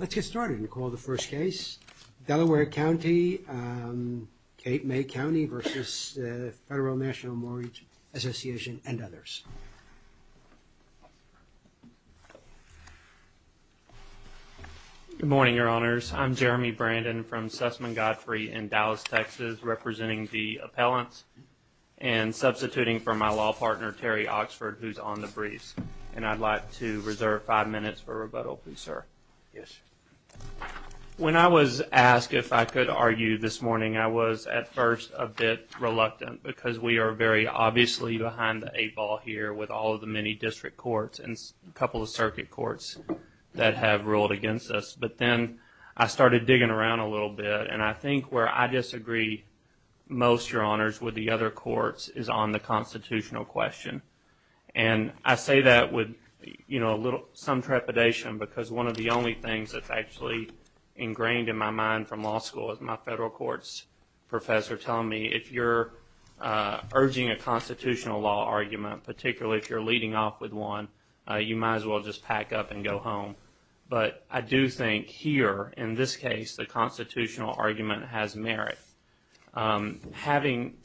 Let's get started and call the first case Delaware County Cape May County versus the Federal National Mortgage Association and others Good morning, your honors. I'm Jeremy Brandon from Sussman Godfrey in Dallas, Texas representing the appellants and Substituting for my law partner Terry Oxford who's on the breeze and I'd like to reserve five minutes for rebuttal. Please sir When I was asked if I could argue this morning I was at first a bit Reluctant because we are very obviously behind the eight ball here with all of the many district courts and a couple of circuit courts That have ruled against us, but then I started digging around a little bit and I think where I disagree most your honors with the other courts is on the constitutional question and I say that with you know, a little some trepidation because one of the only things that's actually ingrained in my mind from law school is my federal courts professor telling me if you're Urging a constitutional law argument particularly if you're leading off with one you might as well just pack up and go home But I do think here in this case the constitutional argument has merit Having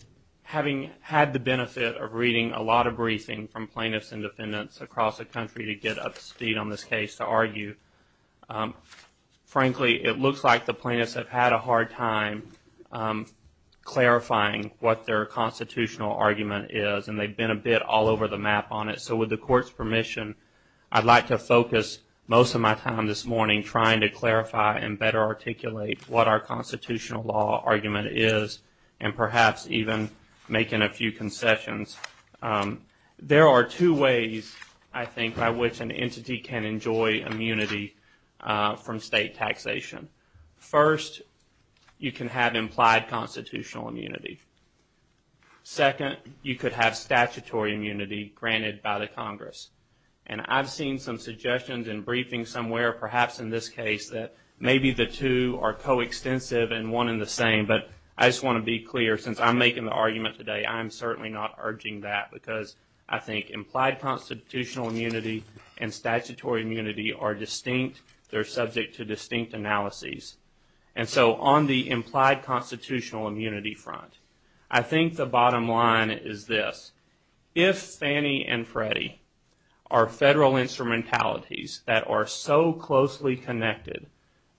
Having had the benefit of reading a lot of briefing from plaintiffs and defendants across the country to get up speed on this case to argue Frankly it looks like the plaintiffs have had a hard time Clarifying what their constitutional argument is and they've been a bit all over the map on it So with the court's permission I'd like to focus most of my time this morning trying to clarify and better articulate what our Constitutional law argument is and perhaps even making a few concessions There are two ways I think by which an entity can enjoy immunity from state taxation first You can have implied constitutional immunity Second you could have statutory immunity granted by the Congress and I've seen some suggestions and briefings somewhere perhaps in this case Maybe the two are Coextensive and one in the same, but I just want to be clear since I'm making the argument today I'm certainly not urging that because I think implied constitutional immunity and Statutory immunity are distinct. They're subject to distinct analyses And so on the implied constitutional immunity front I think the bottom line is this if Fannie and Freddie are So closely connected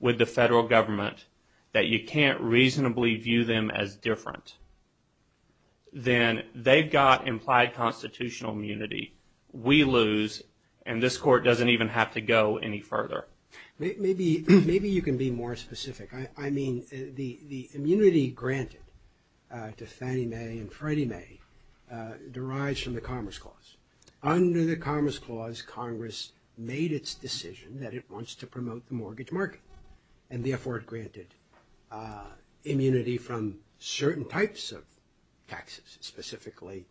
with the federal government that you can't reasonably view them as different Then they've got implied constitutional immunity We lose and this court doesn't even have to go any further Maybe maybe you can be more specific. I mean the the immunity granted to Fannie Mae and Freddie Mae derives from the Commerce Clause Under the Commerce Clause Congress made its decision that it wants to promote the mortgage market and the afford granted immunity from certain types of taxes specifically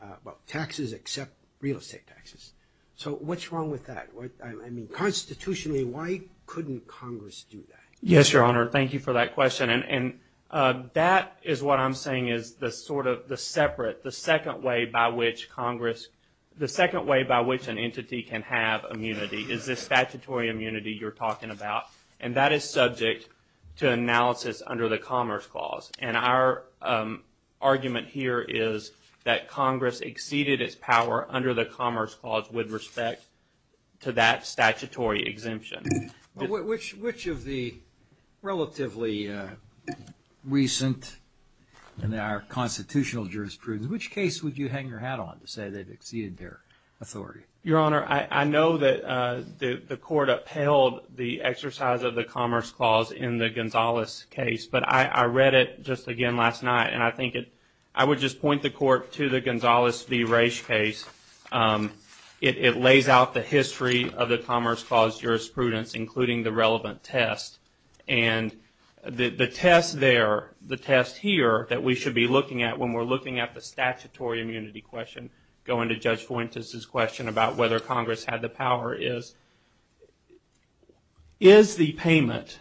About taxes except real estate taxes. So what's wrong with that? What I mean constitutionally Why couldn't Congress do that? Yes, your honor. Thank you for that question And and that is what I'm saying is the sort of the separate the second way by which Congress The second way by which an entity can have immunity is this statutory immunity? you're talking about and that is subject to analysis under the Commerce Clause and our Argument here is that Congress exceeded its power under the Commerce Clause with respect to that statutory exemption which which of the relatively recent And there are constitutional jurisprudence which case would you hang your hat on to say they've exceeded their authority your honor I I know that the the court upheld the exercise of the Commerce Clause in the Gonzales case But I read it just again last night and I think it I would just point the court to the Gonzales the race case it lays out the history of the Commerce Clause jurisprudence, including the relevant test and The test there the test here that we should be looking at when we're looking at the statutory immunity question going to judge Fuentes his question about whether Congress had the power is Is the payment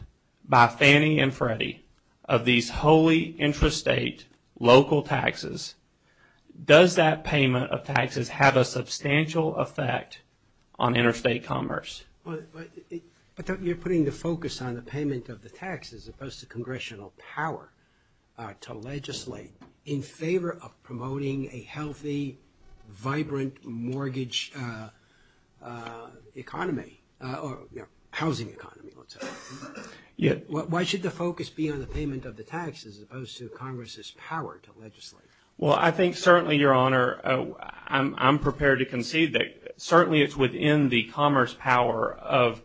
by Fannie and Freddie of these wholly intrastate local taxes Does that payment of taxes have a substantial effect on interstate commerce? But that you're putting the focus on the payment of the tax as opposed to congressional power To legislate in favor of promoting a healthy vibrant mortgage Economy housing Yeah, why should the focus be on the payment of the taxes as opposed to Congress's power to legislate? Well, I think certainly your honor I'm prepared to concede that certainly it's within the commerce power of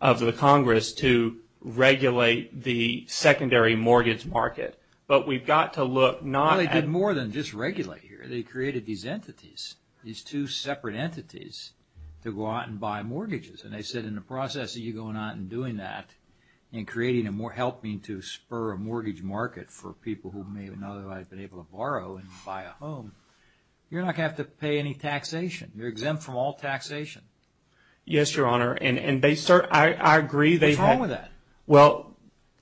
of the Congress to Regulate the secondary mortgage market, but we've got to look not I did more than just regulate here They created these entities these two separate entities To go out and buy mortgages and they said in the process of you going out and doing that And creating a more helping to spur a mortgage market for people who may have been able to borrow and buy a home You're not gonna have to pay any taxation. You're exempt from all taxation Yes, your honor and and they sir, I agree. They've had with that well,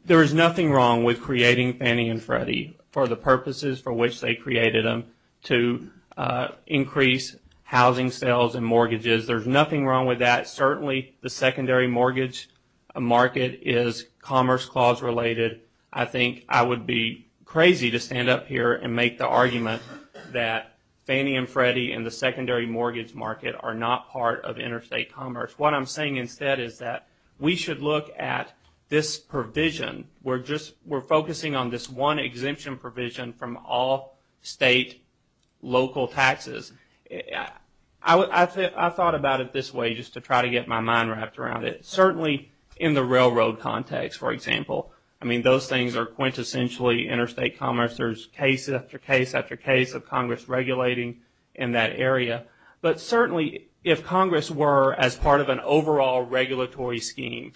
there is nothing wrong with creating Fannie and Freddie for the purposes for which they created them to Increase housing sales and mortgages. There's nothing wrong with that. Certainly the secondary mortgage Market is commerce clause related I think I would be crazy to stand up here and make the argument that Fannie and Freddie and the secondary mortgage market are not part of interstate commerce What I'm saying instead is that we should look at this provision We're just we're focusing on this one exemption provision from all state local taxes I Thought about it this way just to try to get my mind wrapped around it certainly in the railroad context for example I mean those things are quintessentially interstate commerce There's case after case after case of Congress regulating in that area But certainly if Congress were as part of an overall regulatory scheme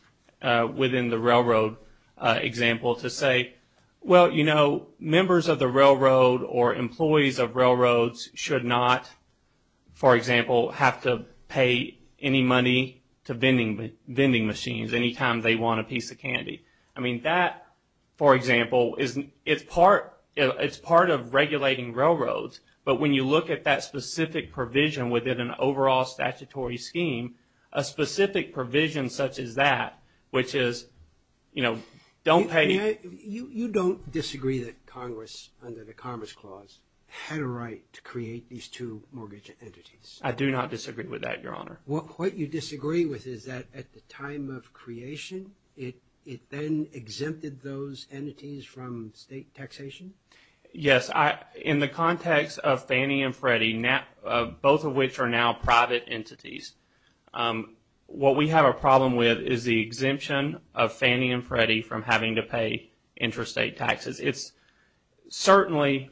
within the railroad Example to say well, you know members of the railroad or employees of railroads should not For example have to pay any money to vending vending machines anytime they want a piece of candy I mean that for example isn't it's part it's part of regulating railroads, but when you look at that specific provision within an overall statutory scheme a Specific provision such as that which is you know Don't pay you you don't disagree that Congress under the Commerce Clause had a right to create these two Entities I do not disagree with that your honor What you disagree with is that at the time of creation it it then exempted those entities from state Taxation. Yes, I in the context of Fannie and Freddie now both of which are now private entities What we have a problem with is the exemption of Fannie and Freddie from having to pay interstate taxes. It's certainly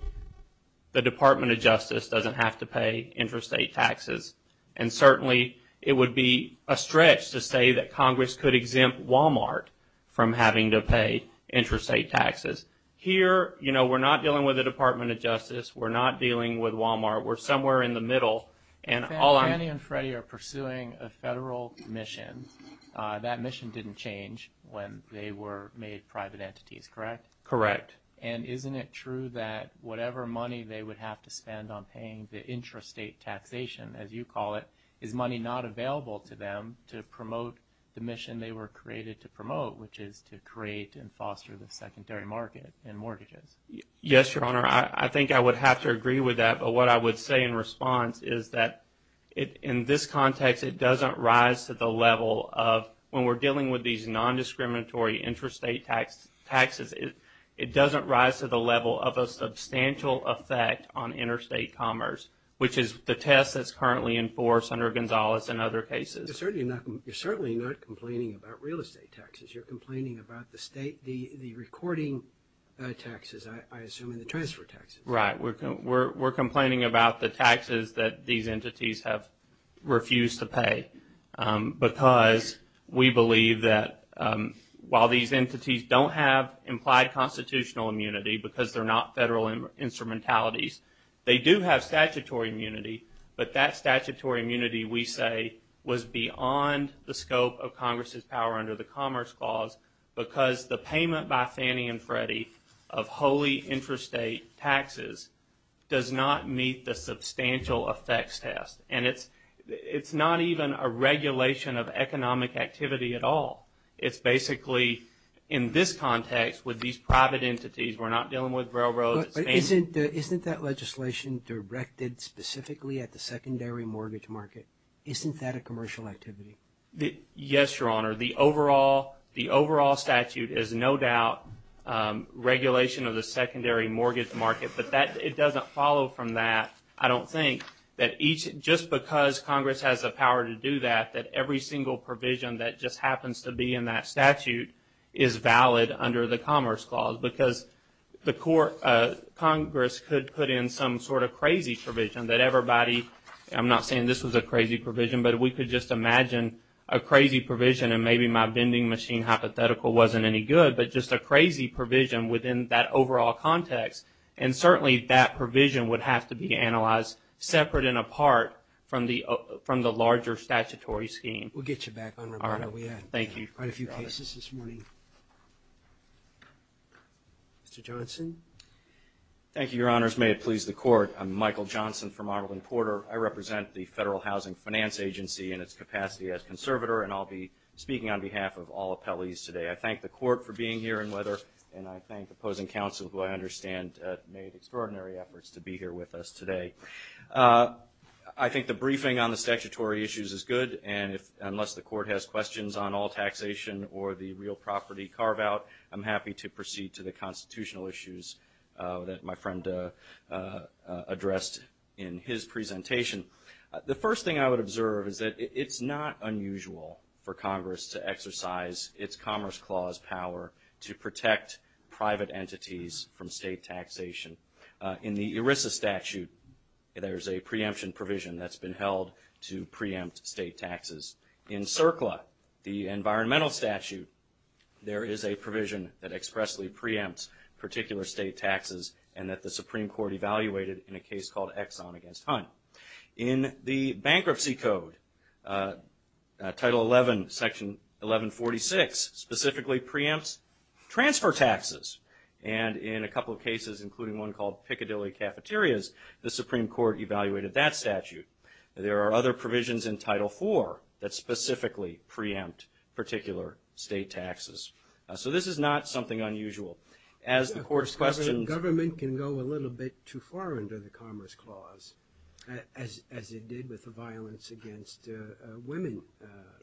The Department of Justice doesn't have to pay interstate taxes and Certainly, it would be a stretch to say that Congress could exempt Walmart from having to pay interstate taxes Here, you know, we're not dealing with the Department of Justice. We're not dealing with Walmart We're somewhere in the middle and all I'm Freddie are pursuing a federal mission That mission didn't change when they were made private entities, correct Correct, and isn't it true that whatever money they would have to spend on paying the intrastate Taxation as you call it is money not available to them to promote the mission They were created to promote which is to create and foster the secondary market and mortgages. Yes, your honor I think I would have to agree with that But what I would say in response is that it in this context It doesn't rise to the level of when we're dealing with these non-discriminatory Interstate tax taxes it it doesn't rise to the level of a substantial effect on interstate commerce Which is the test that's currently enforced under Gonzalez and other cases It's certainly not you're certainly not complaining about real estate taxes. You're complaining about the state the the recording Taxes I assume in the transfer taxes, right? We're complaining about the taxes that these entities have refused to pay because we believe that While these entities don't have implied constitutional immunity because they're not federal instrumentalities, they do have statutory immunity But that statutory immunity we say was beyond the scope of Congress's power under the Commerce Clause Because the payment by Fannie and Freddie of wholly interstate taxes Does not meet the substantial effects test and it's it's not even a regulation of economic activity at all It's basically in this context with these private entities. We're not dealing with railroad It isn't isn't that legislation directed specifically at the secondary mortgage market. Isn't that a commercial activity? Yes, your honor the overall the overall statute is no doubt Regulation of the secondary mortgage market, but that it doesn't follow from that I don't think that each just because Congress has the power to do that that every single provision that just happens to be in that statute is valid under the Commerce Clause because the court Congress could put in some sort of crazy provision that everybody I'm not saying this was a crazy provision But we could just imagine a crazy provision and maybe my vending machine hypothetical wasn't any good But just a crazy provision within that overall context and certainly that provision would have to be analyzed Separate and apart from the from the larger statutory scheme. We'll get you back on. All right. Thank you Mr. Johnson Thank you. Your honors. May it please the court. I'm Michael Johnson from Arlington Porter I represent the Federal Housing Finance Agency in its capacity as conservator and I'll be speaking on behalf of all appellees today I thank the court for being here and whether and I thank the opposing counsel who I understand made extraordinary efforts to be here with us today I think the briefing on the statutory issues is good And if unless the court has questions on all taxation or the real property carve-out I'm happy to proceed to the constitutional issues that my friend Addressed in his presentation The first thing I would observe is that it's not unusual for Congress to exercise its Commerce Clause power to protect private entities from state taxation in the ERISA statute There's a preemption provision that's been held to preempt state taxes in CERCLA the environmental statute There is a provision that expressly preempts particular state taxes and that the Supreme Court evaluated in a case called Exxon against Hunt in the bankruptcy code Title 11 section 1146 specifically preempts Transfer taxes and in a couple of cases including one called Piccadilly cafeterias the Supreme Court evaluated that statute There are other provisions in title four that specifically preempt particular state taxes So this is not something unusual as the court's question government can go a little bit too far into the Commerce Clause As as it did with the violence against women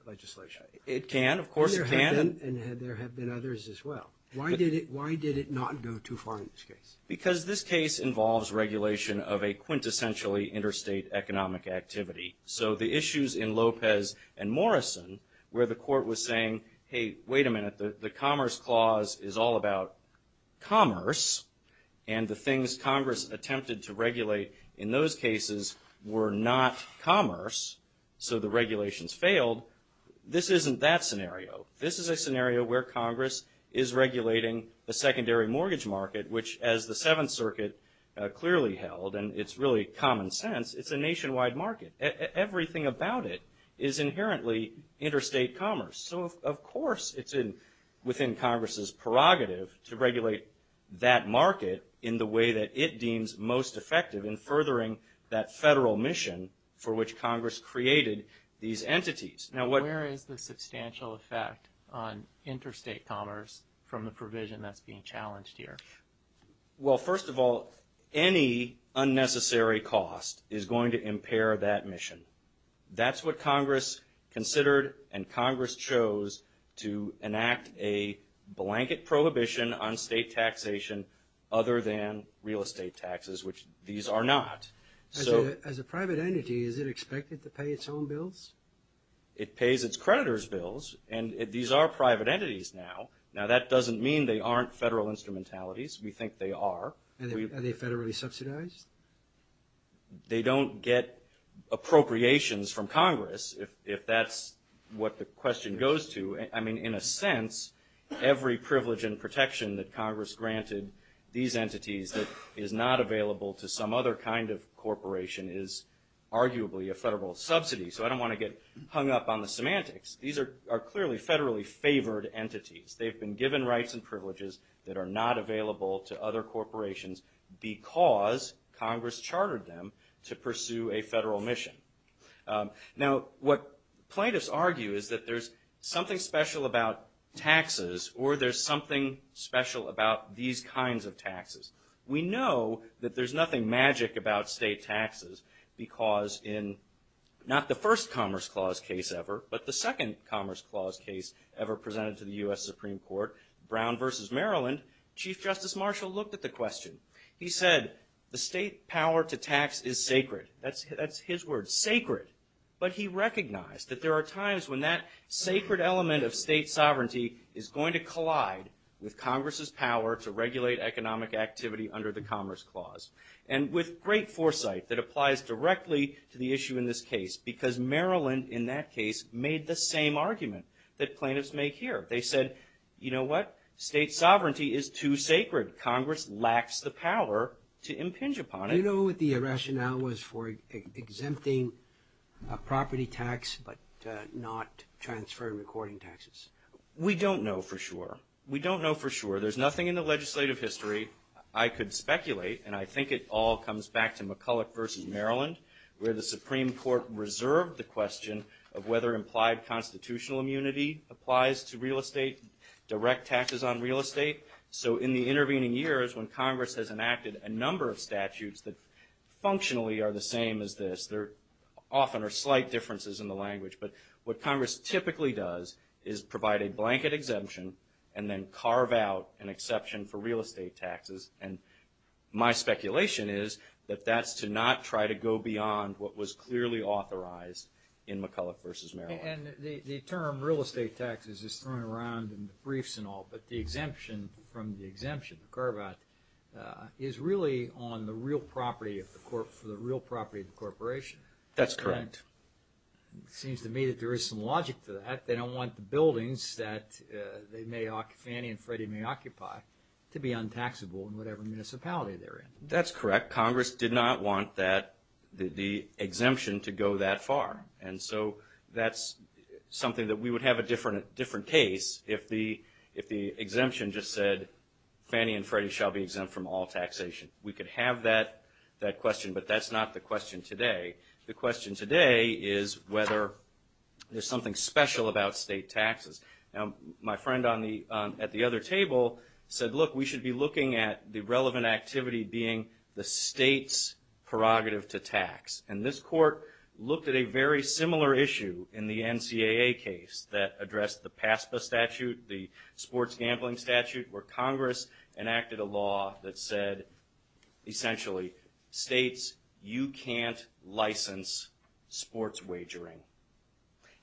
Legislation it can of course it can and there have been others as well Why did it why did it not go too far in this case because this case involves regulation of a quintessentially interstate economic activity So the issues in Lopez and Morrison where the court was saying hey, wait a minute. The Commerce Clause is all about commerce and The things Congress attempted to regulate in those cases were not commerce So the regulations failed this isn't that scenario? This is a scenario where Congress is regulating a secondary mortgage market, which as the Seventh Circuit Clearly held and it's really common sense. It's a nationwide market Everything about it is inherently interstate commerce So, of course It's in within Congress's prerogative to regulate that market in the way that it deems most effective in furthering That federal mission for which Congress created these entities now What is the substantial effect on interstate commerce from the provision that's being challenged here? Well, first of all any Unnecessary cost is going to impair that mission. That's what Congress considered and Congress chose to enact a Blanket prohibition on state taxation other than real estate taxes, which these are not As a private entity, is it expected to pay its own bills? It pays its creditors bills and these are private entities now now that doesn't mean they aren't federal instrumentality We think they are and they federally subsidized They don't get Appropriations from Congress if that's what the question goes to I mean in a sense Every privilege and protection that Congress granted these entities that is not available to some other kind of corporation is Arguably a federal subsidy, so I don't want to get hung up on the semantics. These are clearly federally favored entities They've been given rights and privileges that are not available to other corporations Because Congress chartered them to pursue a federal mission Now what plaintiffs argue is that there's something special about? Taxes or there's something special about these kinds of taxes We know that there's nothing magic about state taxes because in Not the first Commerce Clause case ever But the second Commerce Clause case ever presented to the US Supreme Court Brown vs Maryland Chief Justice Marshall looked at the question. He said the state power to tax is sacred That's that's his word sacred But he recognized that there are times when that sacred element of state sovereignty is going to collide With Congress's power to regulate economic activity under the Commerce Clause and with great foresight that applies Directly to the issue in this case because Maryland in that case made the same argument that plaintiffs make here They said you know what state sovereignty is too sacred Congress lacks the power to impinge upon it You know what the rationale was for? exempting a property tax but not Transferring recording taxes. We don't know for sure. We don't know for sure. There's nothing in the legislative history I could speculate and I think it all comes back to McCulloch versus, Maryland Where the Supreme Court reserved the question of whether implied constitutional immunity applies to real estate Direct taxes on real estate. So in the intervening years when Congress has enacted a number of statutes that Functionally are the same as this there often are slight differences in the language What Congress typically does is provide a blanket exemption and then carve out an exception for real estate taxes and My speculation is that that's to not try to go beyond what was clearly authorized in McCulloch versus, Maryland And the term real estate taxes is thrown around in the briefs and all but the exemption from the exemption the carve-out Is really on the real property of the court for the real property of the corporation. That's correct Seems to me that there is some logic to that They don't want the buildings that they may occupy Fannie and Freddie may occupy to be untaxable in whatever municipality They're in that's correct. Congress did not want that the exemption to go that far. And so that's Something that we would have a different different case if the if the exemption just said Fannie and Freddie shall be exempt from all taxation. We could have that that question, but that's not the question today the question today is whether There's something special about state taxes now my friend on the at the other table said look We should be looking at the relevant activity being the state's prerogative to tax and this court looked at a very similar issue in the NCAA case that addressed the PASPA statute the sports gambling statute where Congress enacted a law that said Essentially states you can't license sports wagering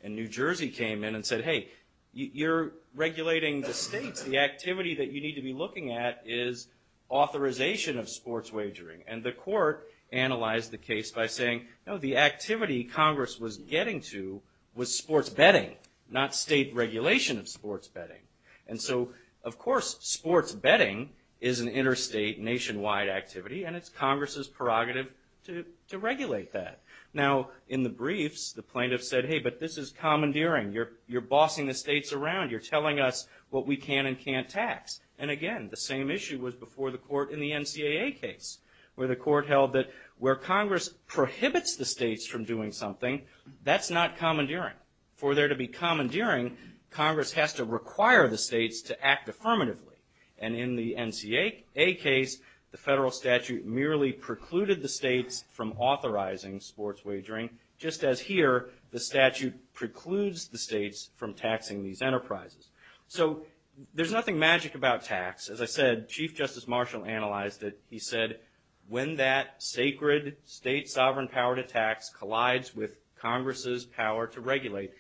and New Jersey came in and said hey, you're regulating the state's the activity that you need to be looking at is authorization of sports wagering and the court Analyzed the case by saying no the activity Congress was getting to was sports betting Not state regulation of sports betting and so of course sports betting is an interstate nationwide activity And it's Congress's prerogative to to regulate that now in the briefs the plaintiffs said hey But this is commandeering you're you're bossing the states around you're telling us what we can and can't tax and again The same issue was before the court in the NCAA case where the court held that where Congress Prohibits the states from doing something that's not commandeering for there to be commandeering Congress has to require the states to act affirmatively and in the NCAA case the federal statute merely precluded the states from authorizing sports wagering just as here the statute precludes the states from taxing these enterprises, so There's nothing magic about tax as I said Chief Justice Marshall analyzed it He said when that sacred state sovereign power to tax collides with Congress's power to regulate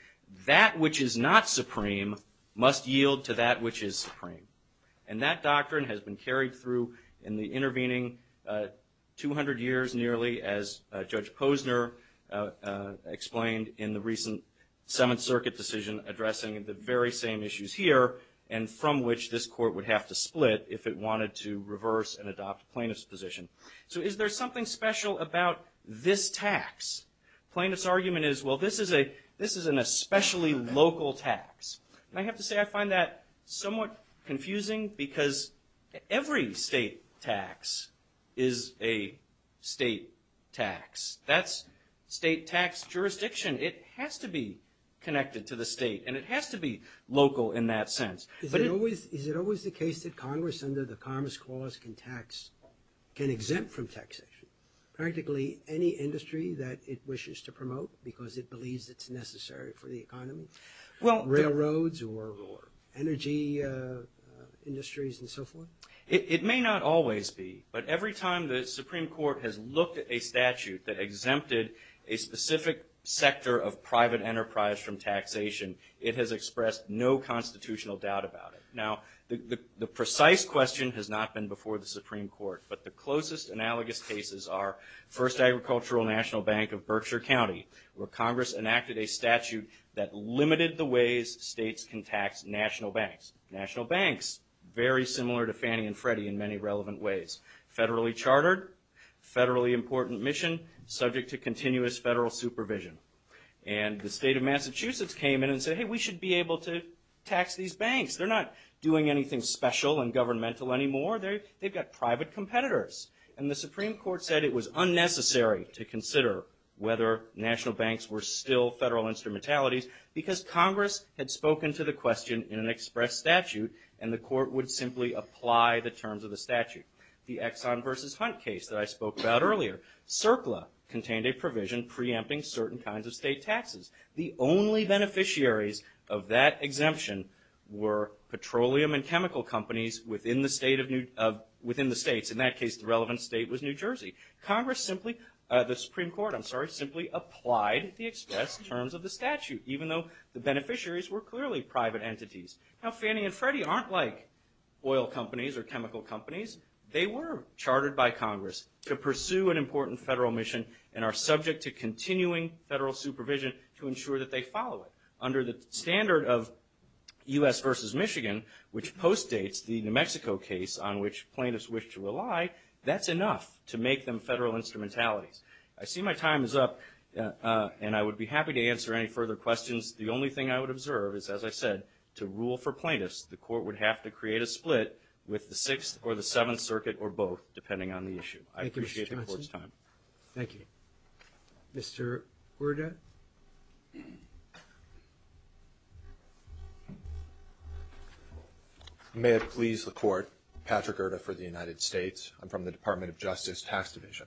That which is not supreme must yield to that which is supreme and that doctrine has been carried through in the intervening 200 years nearly as Judge Posner explained in the recent Seventh Circuit decision addressing the very same issues here and From which this court would have to split if it wanted to reverse and adopt plaintiffs position So is there something special about this tax? Plaintiffs argument is well, this is a this is an especially local tax and I have to say I find that somewhat confusing because every state tax is a State tax that's state tax jurisdiction. It has to be Connected to the state and it has to be local in that sense But it always is it always the case that Congress under the Commerce Clause can tax Can exempt from taxation Practically any industry that it wishes to promote because it believes it's necessary for the economy. Well railroads or energy Industries and so forth it may not always be but every time the Supreme Court has looked at a statute that exempted a Specific sector of private enterprise from taxation. It has expressed no constitutional doubt about it The precise question has not been before the Supreme Court but the closest analogous cases are first Agricultural National Bank of Berkshire County where Congress enacted a statute that Limited the ways states can tax national banks national banks very similar to Fannie and Freddie in many relevant ways federally chartered federally important mission subject to continuous federal supervision and The state of Massachusetts came in and said hey, we should be able to tax these banks They're not doing anything special and governmental anymore They've got private competitors and the Supreme Court said it was unnecessary to consider whether National banks were still federal instrumentalities because Congress had spoken to the question in an express statute and the court would simply Apply the terms of the statute the Exxon versus Hunt case that I spoke about earlier CERCLA contained a provision preempting certain kinds of state taxes the only beneficiaries of that exemption were Petroleum and chemical companies within the state of Newt of within the states in that case the relevant state was, New Jersey Congress simply the Supreme Court I'm sorry simply applied the express terms of the statute even though the beneficiaries were clearly private entities now Fannie and Freddie aren't like oil companies or chemical companies They were chartered by Congress to pursue an important federal mission and are subject to continuing federal supervision to ensure that they follow it under the standard of US versus Michigan which postdates the New Mexico case on which plaintiffs wish to rely That's enough to make them federal instrumentalities. I see my time is up And I would be happy to answer any further questions The only thing I would observe is as I said To rule for plaintiffs the court would have to create a split with the 6th or the 7th Circuit or both depending on the issue I appreciate the courts time. Thank you Mr. Horta I May have pleased the court Patrick Erta for the United States. I'm from the Department of Justice tax division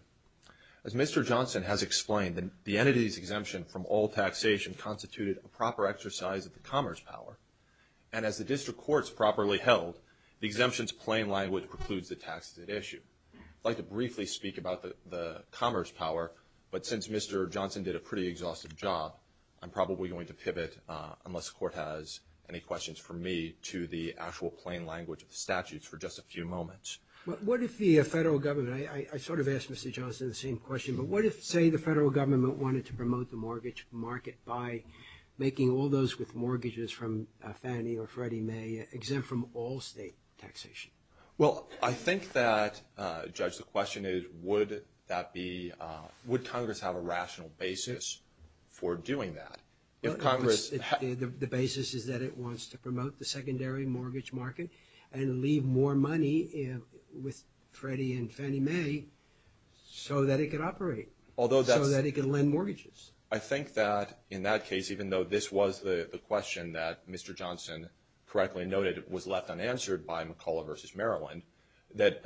As mr Johnson has explained that the entities exemption from all taxation constituted a proper exercise of the commerce power and As the district courts properly held the exemptions plain language precludes the taxes at issue I'd like to briefly speak about the the commerce power. But since mr. Johnson did a pretty exhaustive job I'm probably going to pivot unless the court has any questions for me to the actual plain language of the statutes for just a few Moments, but what if the federal government I sort of asked mr. Johnson the same question but what if say the federal government wanted to promote the mortgage market by Making all those with mortgages from Fannie or Freddie may exempt from all state taxation. Well, I think that Judge the question is would that be would Congress have a rational basis? For doing that if Congress the basis is that it wants to promote the secondary mortgage market and leave more money with Freddie and Fannie Mae So that it could operate although that it could lend mortgages. I think that in that case even though this was the question that mr Johnson correctly noted it was left unanswered by McCulloch versus Maryland that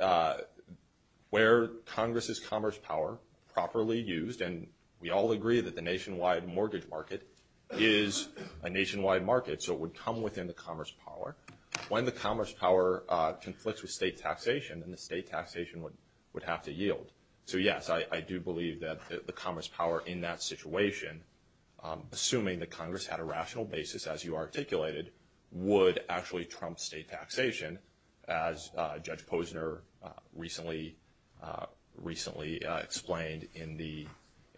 Where Congress's commerce power properly used and we all agree that the nationwide mortgage market is a Nationwide market so it would come within the commerce power when the commerce power Conflicts with state taxation and the state taxation would would have to yield. So yes, I do believe that the commerce power in that situation assuming the Congress had a rational basis as you articulated would actually trump state taxation as Judge Posner recently Recently explained in the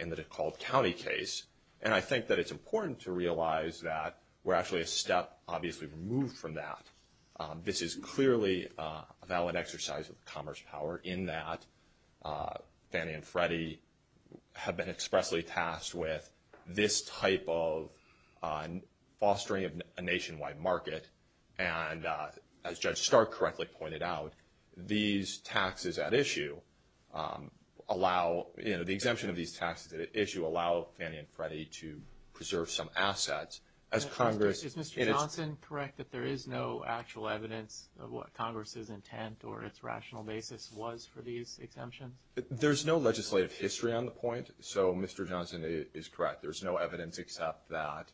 in the DeKalb County case And I think that it's important to realize that we're actually a step obviously removed from that This is clearly a valid exercise of the commerce power in that Fannie and Freddie have been expressly tasked with this type of Fostering a nationwide market and as judge stark correctly pointed out these taxes at issue Allow, you know the exemption of these taxes at issue allow Fannie and Freddie to preserve some assets as Congress Correct that there is no actual evidence of what Congress's intent or its rational basis was for these exemptions There's no legislative history on the point. So mr. Johnson is correct. There's no evidence except that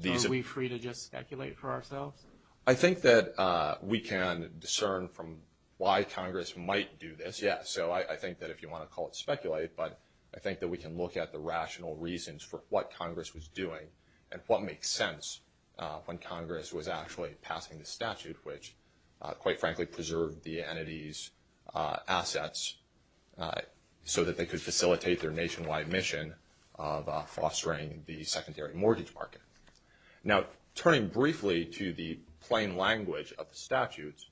These are we free to just speculate for ourselves I think that we can discern from why Congress might do this Yeah so I think that if you want to call it speculate but I think that we can look at the rational reasons for what Congress Was doing and what makes sense? When Congress was actually passing the statute which quite frankly preserved the entities assets so that they could facilitate their nationwide mission of Fostering the secondary mortgage market now turning briefly to the plain language of the statutes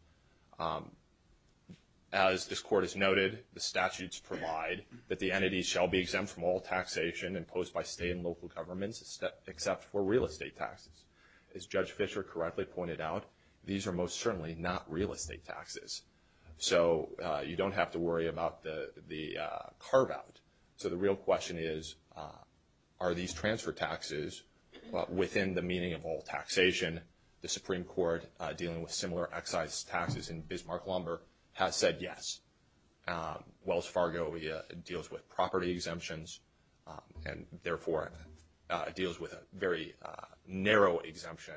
as This court has noted the statutes provide that the entities shall be exempt from all taxation imposed by state and local governments Except for real estate taxes as judge Fischer correctly pointed out. These are most certainly not real estate taxes so you don't have to worry about the the Carve-out. So the real question is Are these transfer taxes? Within the meaning of all taxation the Supreme Court dealing with similar excise taxes in Bismarck lumber has said yes Wells Fargo deals with property exemptions and therefore deals with a very Narrow exemption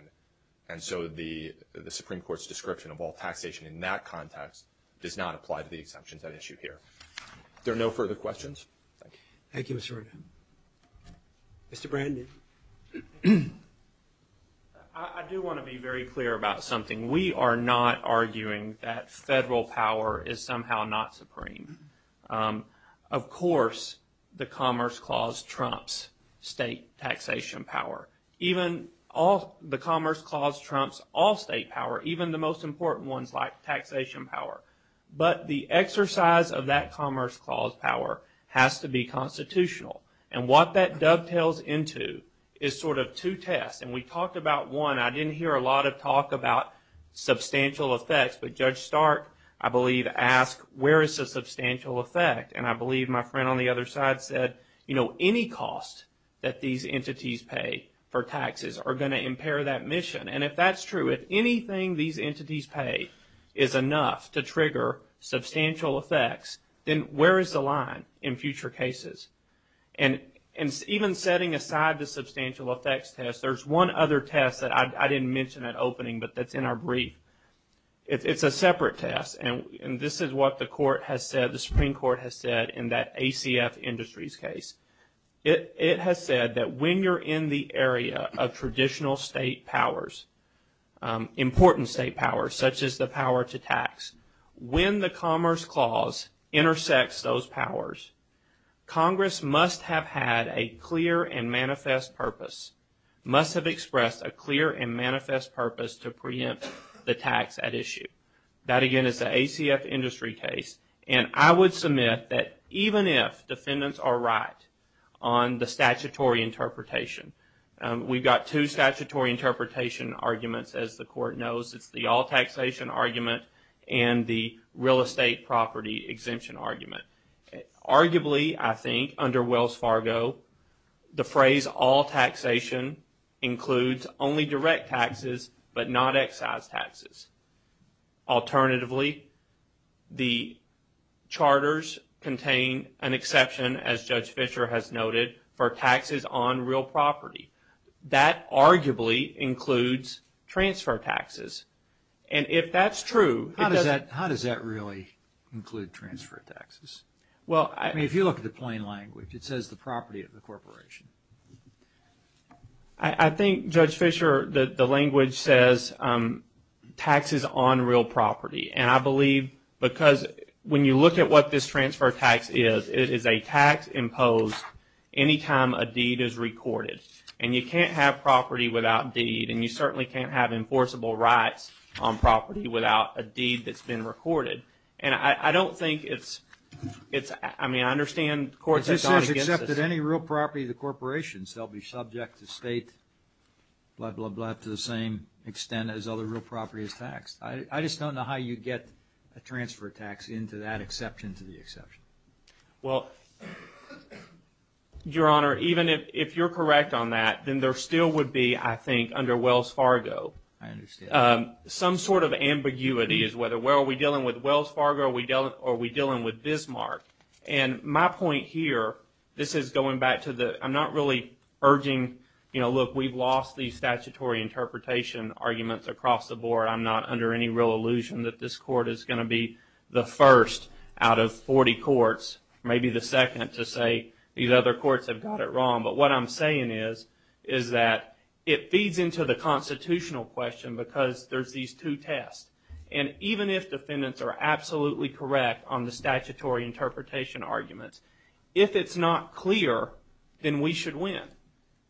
and so the the Supreme Court's description of all taxation in that context does not apply to the exemptions that issue here There are no further questions Thank You, Mr. Mr. Brandon Something we are not arguing that federal power is somehow not supreme of course the Commerce Clause trumps state taxation power Even all the Commerce Clause trumps all state power even the most important ones like taxation power But the exercise of that Commerce Clause power has to be Constitutional and what that dovetails into is sort of two tests and we talked about one. I didn't hear a lot of talk about Substantial effects, but judge Stark I believe asked where is the substantial effect? And I believe my friend on the other side said, you know Any cost that these entities pay for taxes are going to impair that mission And if that's true, if anything these entities pay is enough to trigger substantial effects then where is the line in future cases and And even setting aside the substantial effects test. There's one other test that I didn't mention that opening but that's in our brief It's a separate test. And and this is what the court has said. The Supreme Court has said in that ACF Industries case It has said that when you're in the area of traditional state powers Important state powers such as the power to tax when the Commerce Clause intersects those powers Congress must have had a clear and manifest purpose Must have expressed a clear and manifest purpose to preempt the tax at issue That again is the ACF Industry case and I would submit that even if defendants are right on the statutory interpretation We've got two statutory interpretation arguments as the court knows It's the all taxation argument and the real estate property exemption argument Arguably, I think under Wells Fargo the phrase all taxation Includes only direct taxes, but not excise taxes alternatively the That arguably includes transfer taxes and if that's true, how does that how does that really Include transfer taxes. Well, I mean if you look at the plain language, it says the property of the corporation. I Think judge Fisher the the language says Taxes on real property and I believe because when you look at what this transfer tax is it is a tax imposed Anytime a deed is recorded and you can't have property without deed and you certainly can't have enforceable rights on property without a deed that's been recorded and I don't think it's It's I mean, I understand courts accepted any real property the corporation's they'll be subject to state Blood blood blood to the same extent as other real property is taxed I just don't know how you get a transfer tax into that exception to the exception. Well Your honor even if you're correct on that then there still would be I think under Wells Fargo Some sort of ambiguity is whether where are we dealing with Wells Fargo? We dealt or we dealing with Bismarck and my point here. This is going back to the I'm not really urging You know, look we've lost these statutory interpretation arguments across the board I'm not under any real illusion that this court is going to be the first out of 40 courts Maybe the second to say these other courts have got it wrong but what I'm saying is is that it feeds into the Constitutional question because there's these two tests and even if defendants are absolutely correct on the statutory Interpretation arguments if it's not clear Then we should win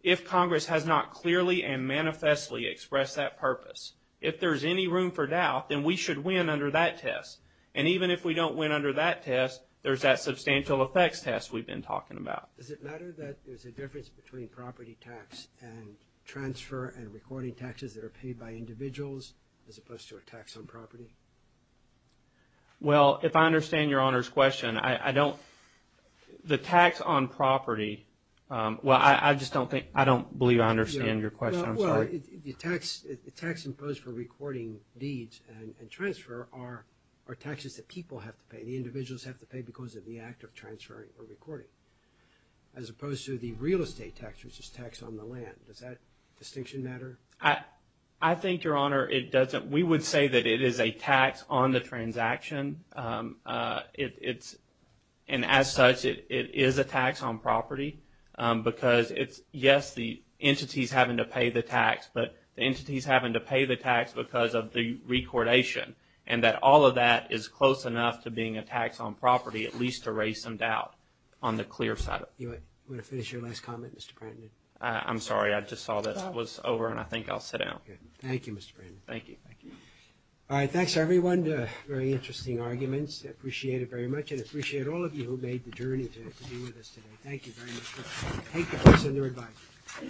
if Congress has not clearly and manifestly Express that purpose if there's any room for doubt then we should win under that test And even if we don't win under that test, there's that substantial effects test. We've been talking about does it matter that there's a difference between property tax and Transfer and recording taxes that are paid by individuals as opposed to a tax on property Well, if I understand your honors question, I I don't the tax on property Well, I I just don't think I don't believe I understand your question The tax the tax imposed for recording deeds and transfer are Taxes that people have to pay the individuals have to pay because of the act of transferring or recording As opposed to the real estate tax which is tax on the land. Does that distinction matter? I I think your honor it doesn't we would say that it is a tax on the transaction It's and as such it is a tax on property Because it's yes the entities having to pay the tax but the entities having to pay the tax because of the Recordation and that all of that is close enough to being a tax on property at least to raise some doubt on the clear side You want to finish your last comment? Mr. Brandon? I'm sorry. I just saw this was over and I think I'll sit down Thank You. Mr. Thank you. Thank you All right. Thanks everyone. Very interesting arguments appreciate it very much and appreciate all of you who made the journey Thank you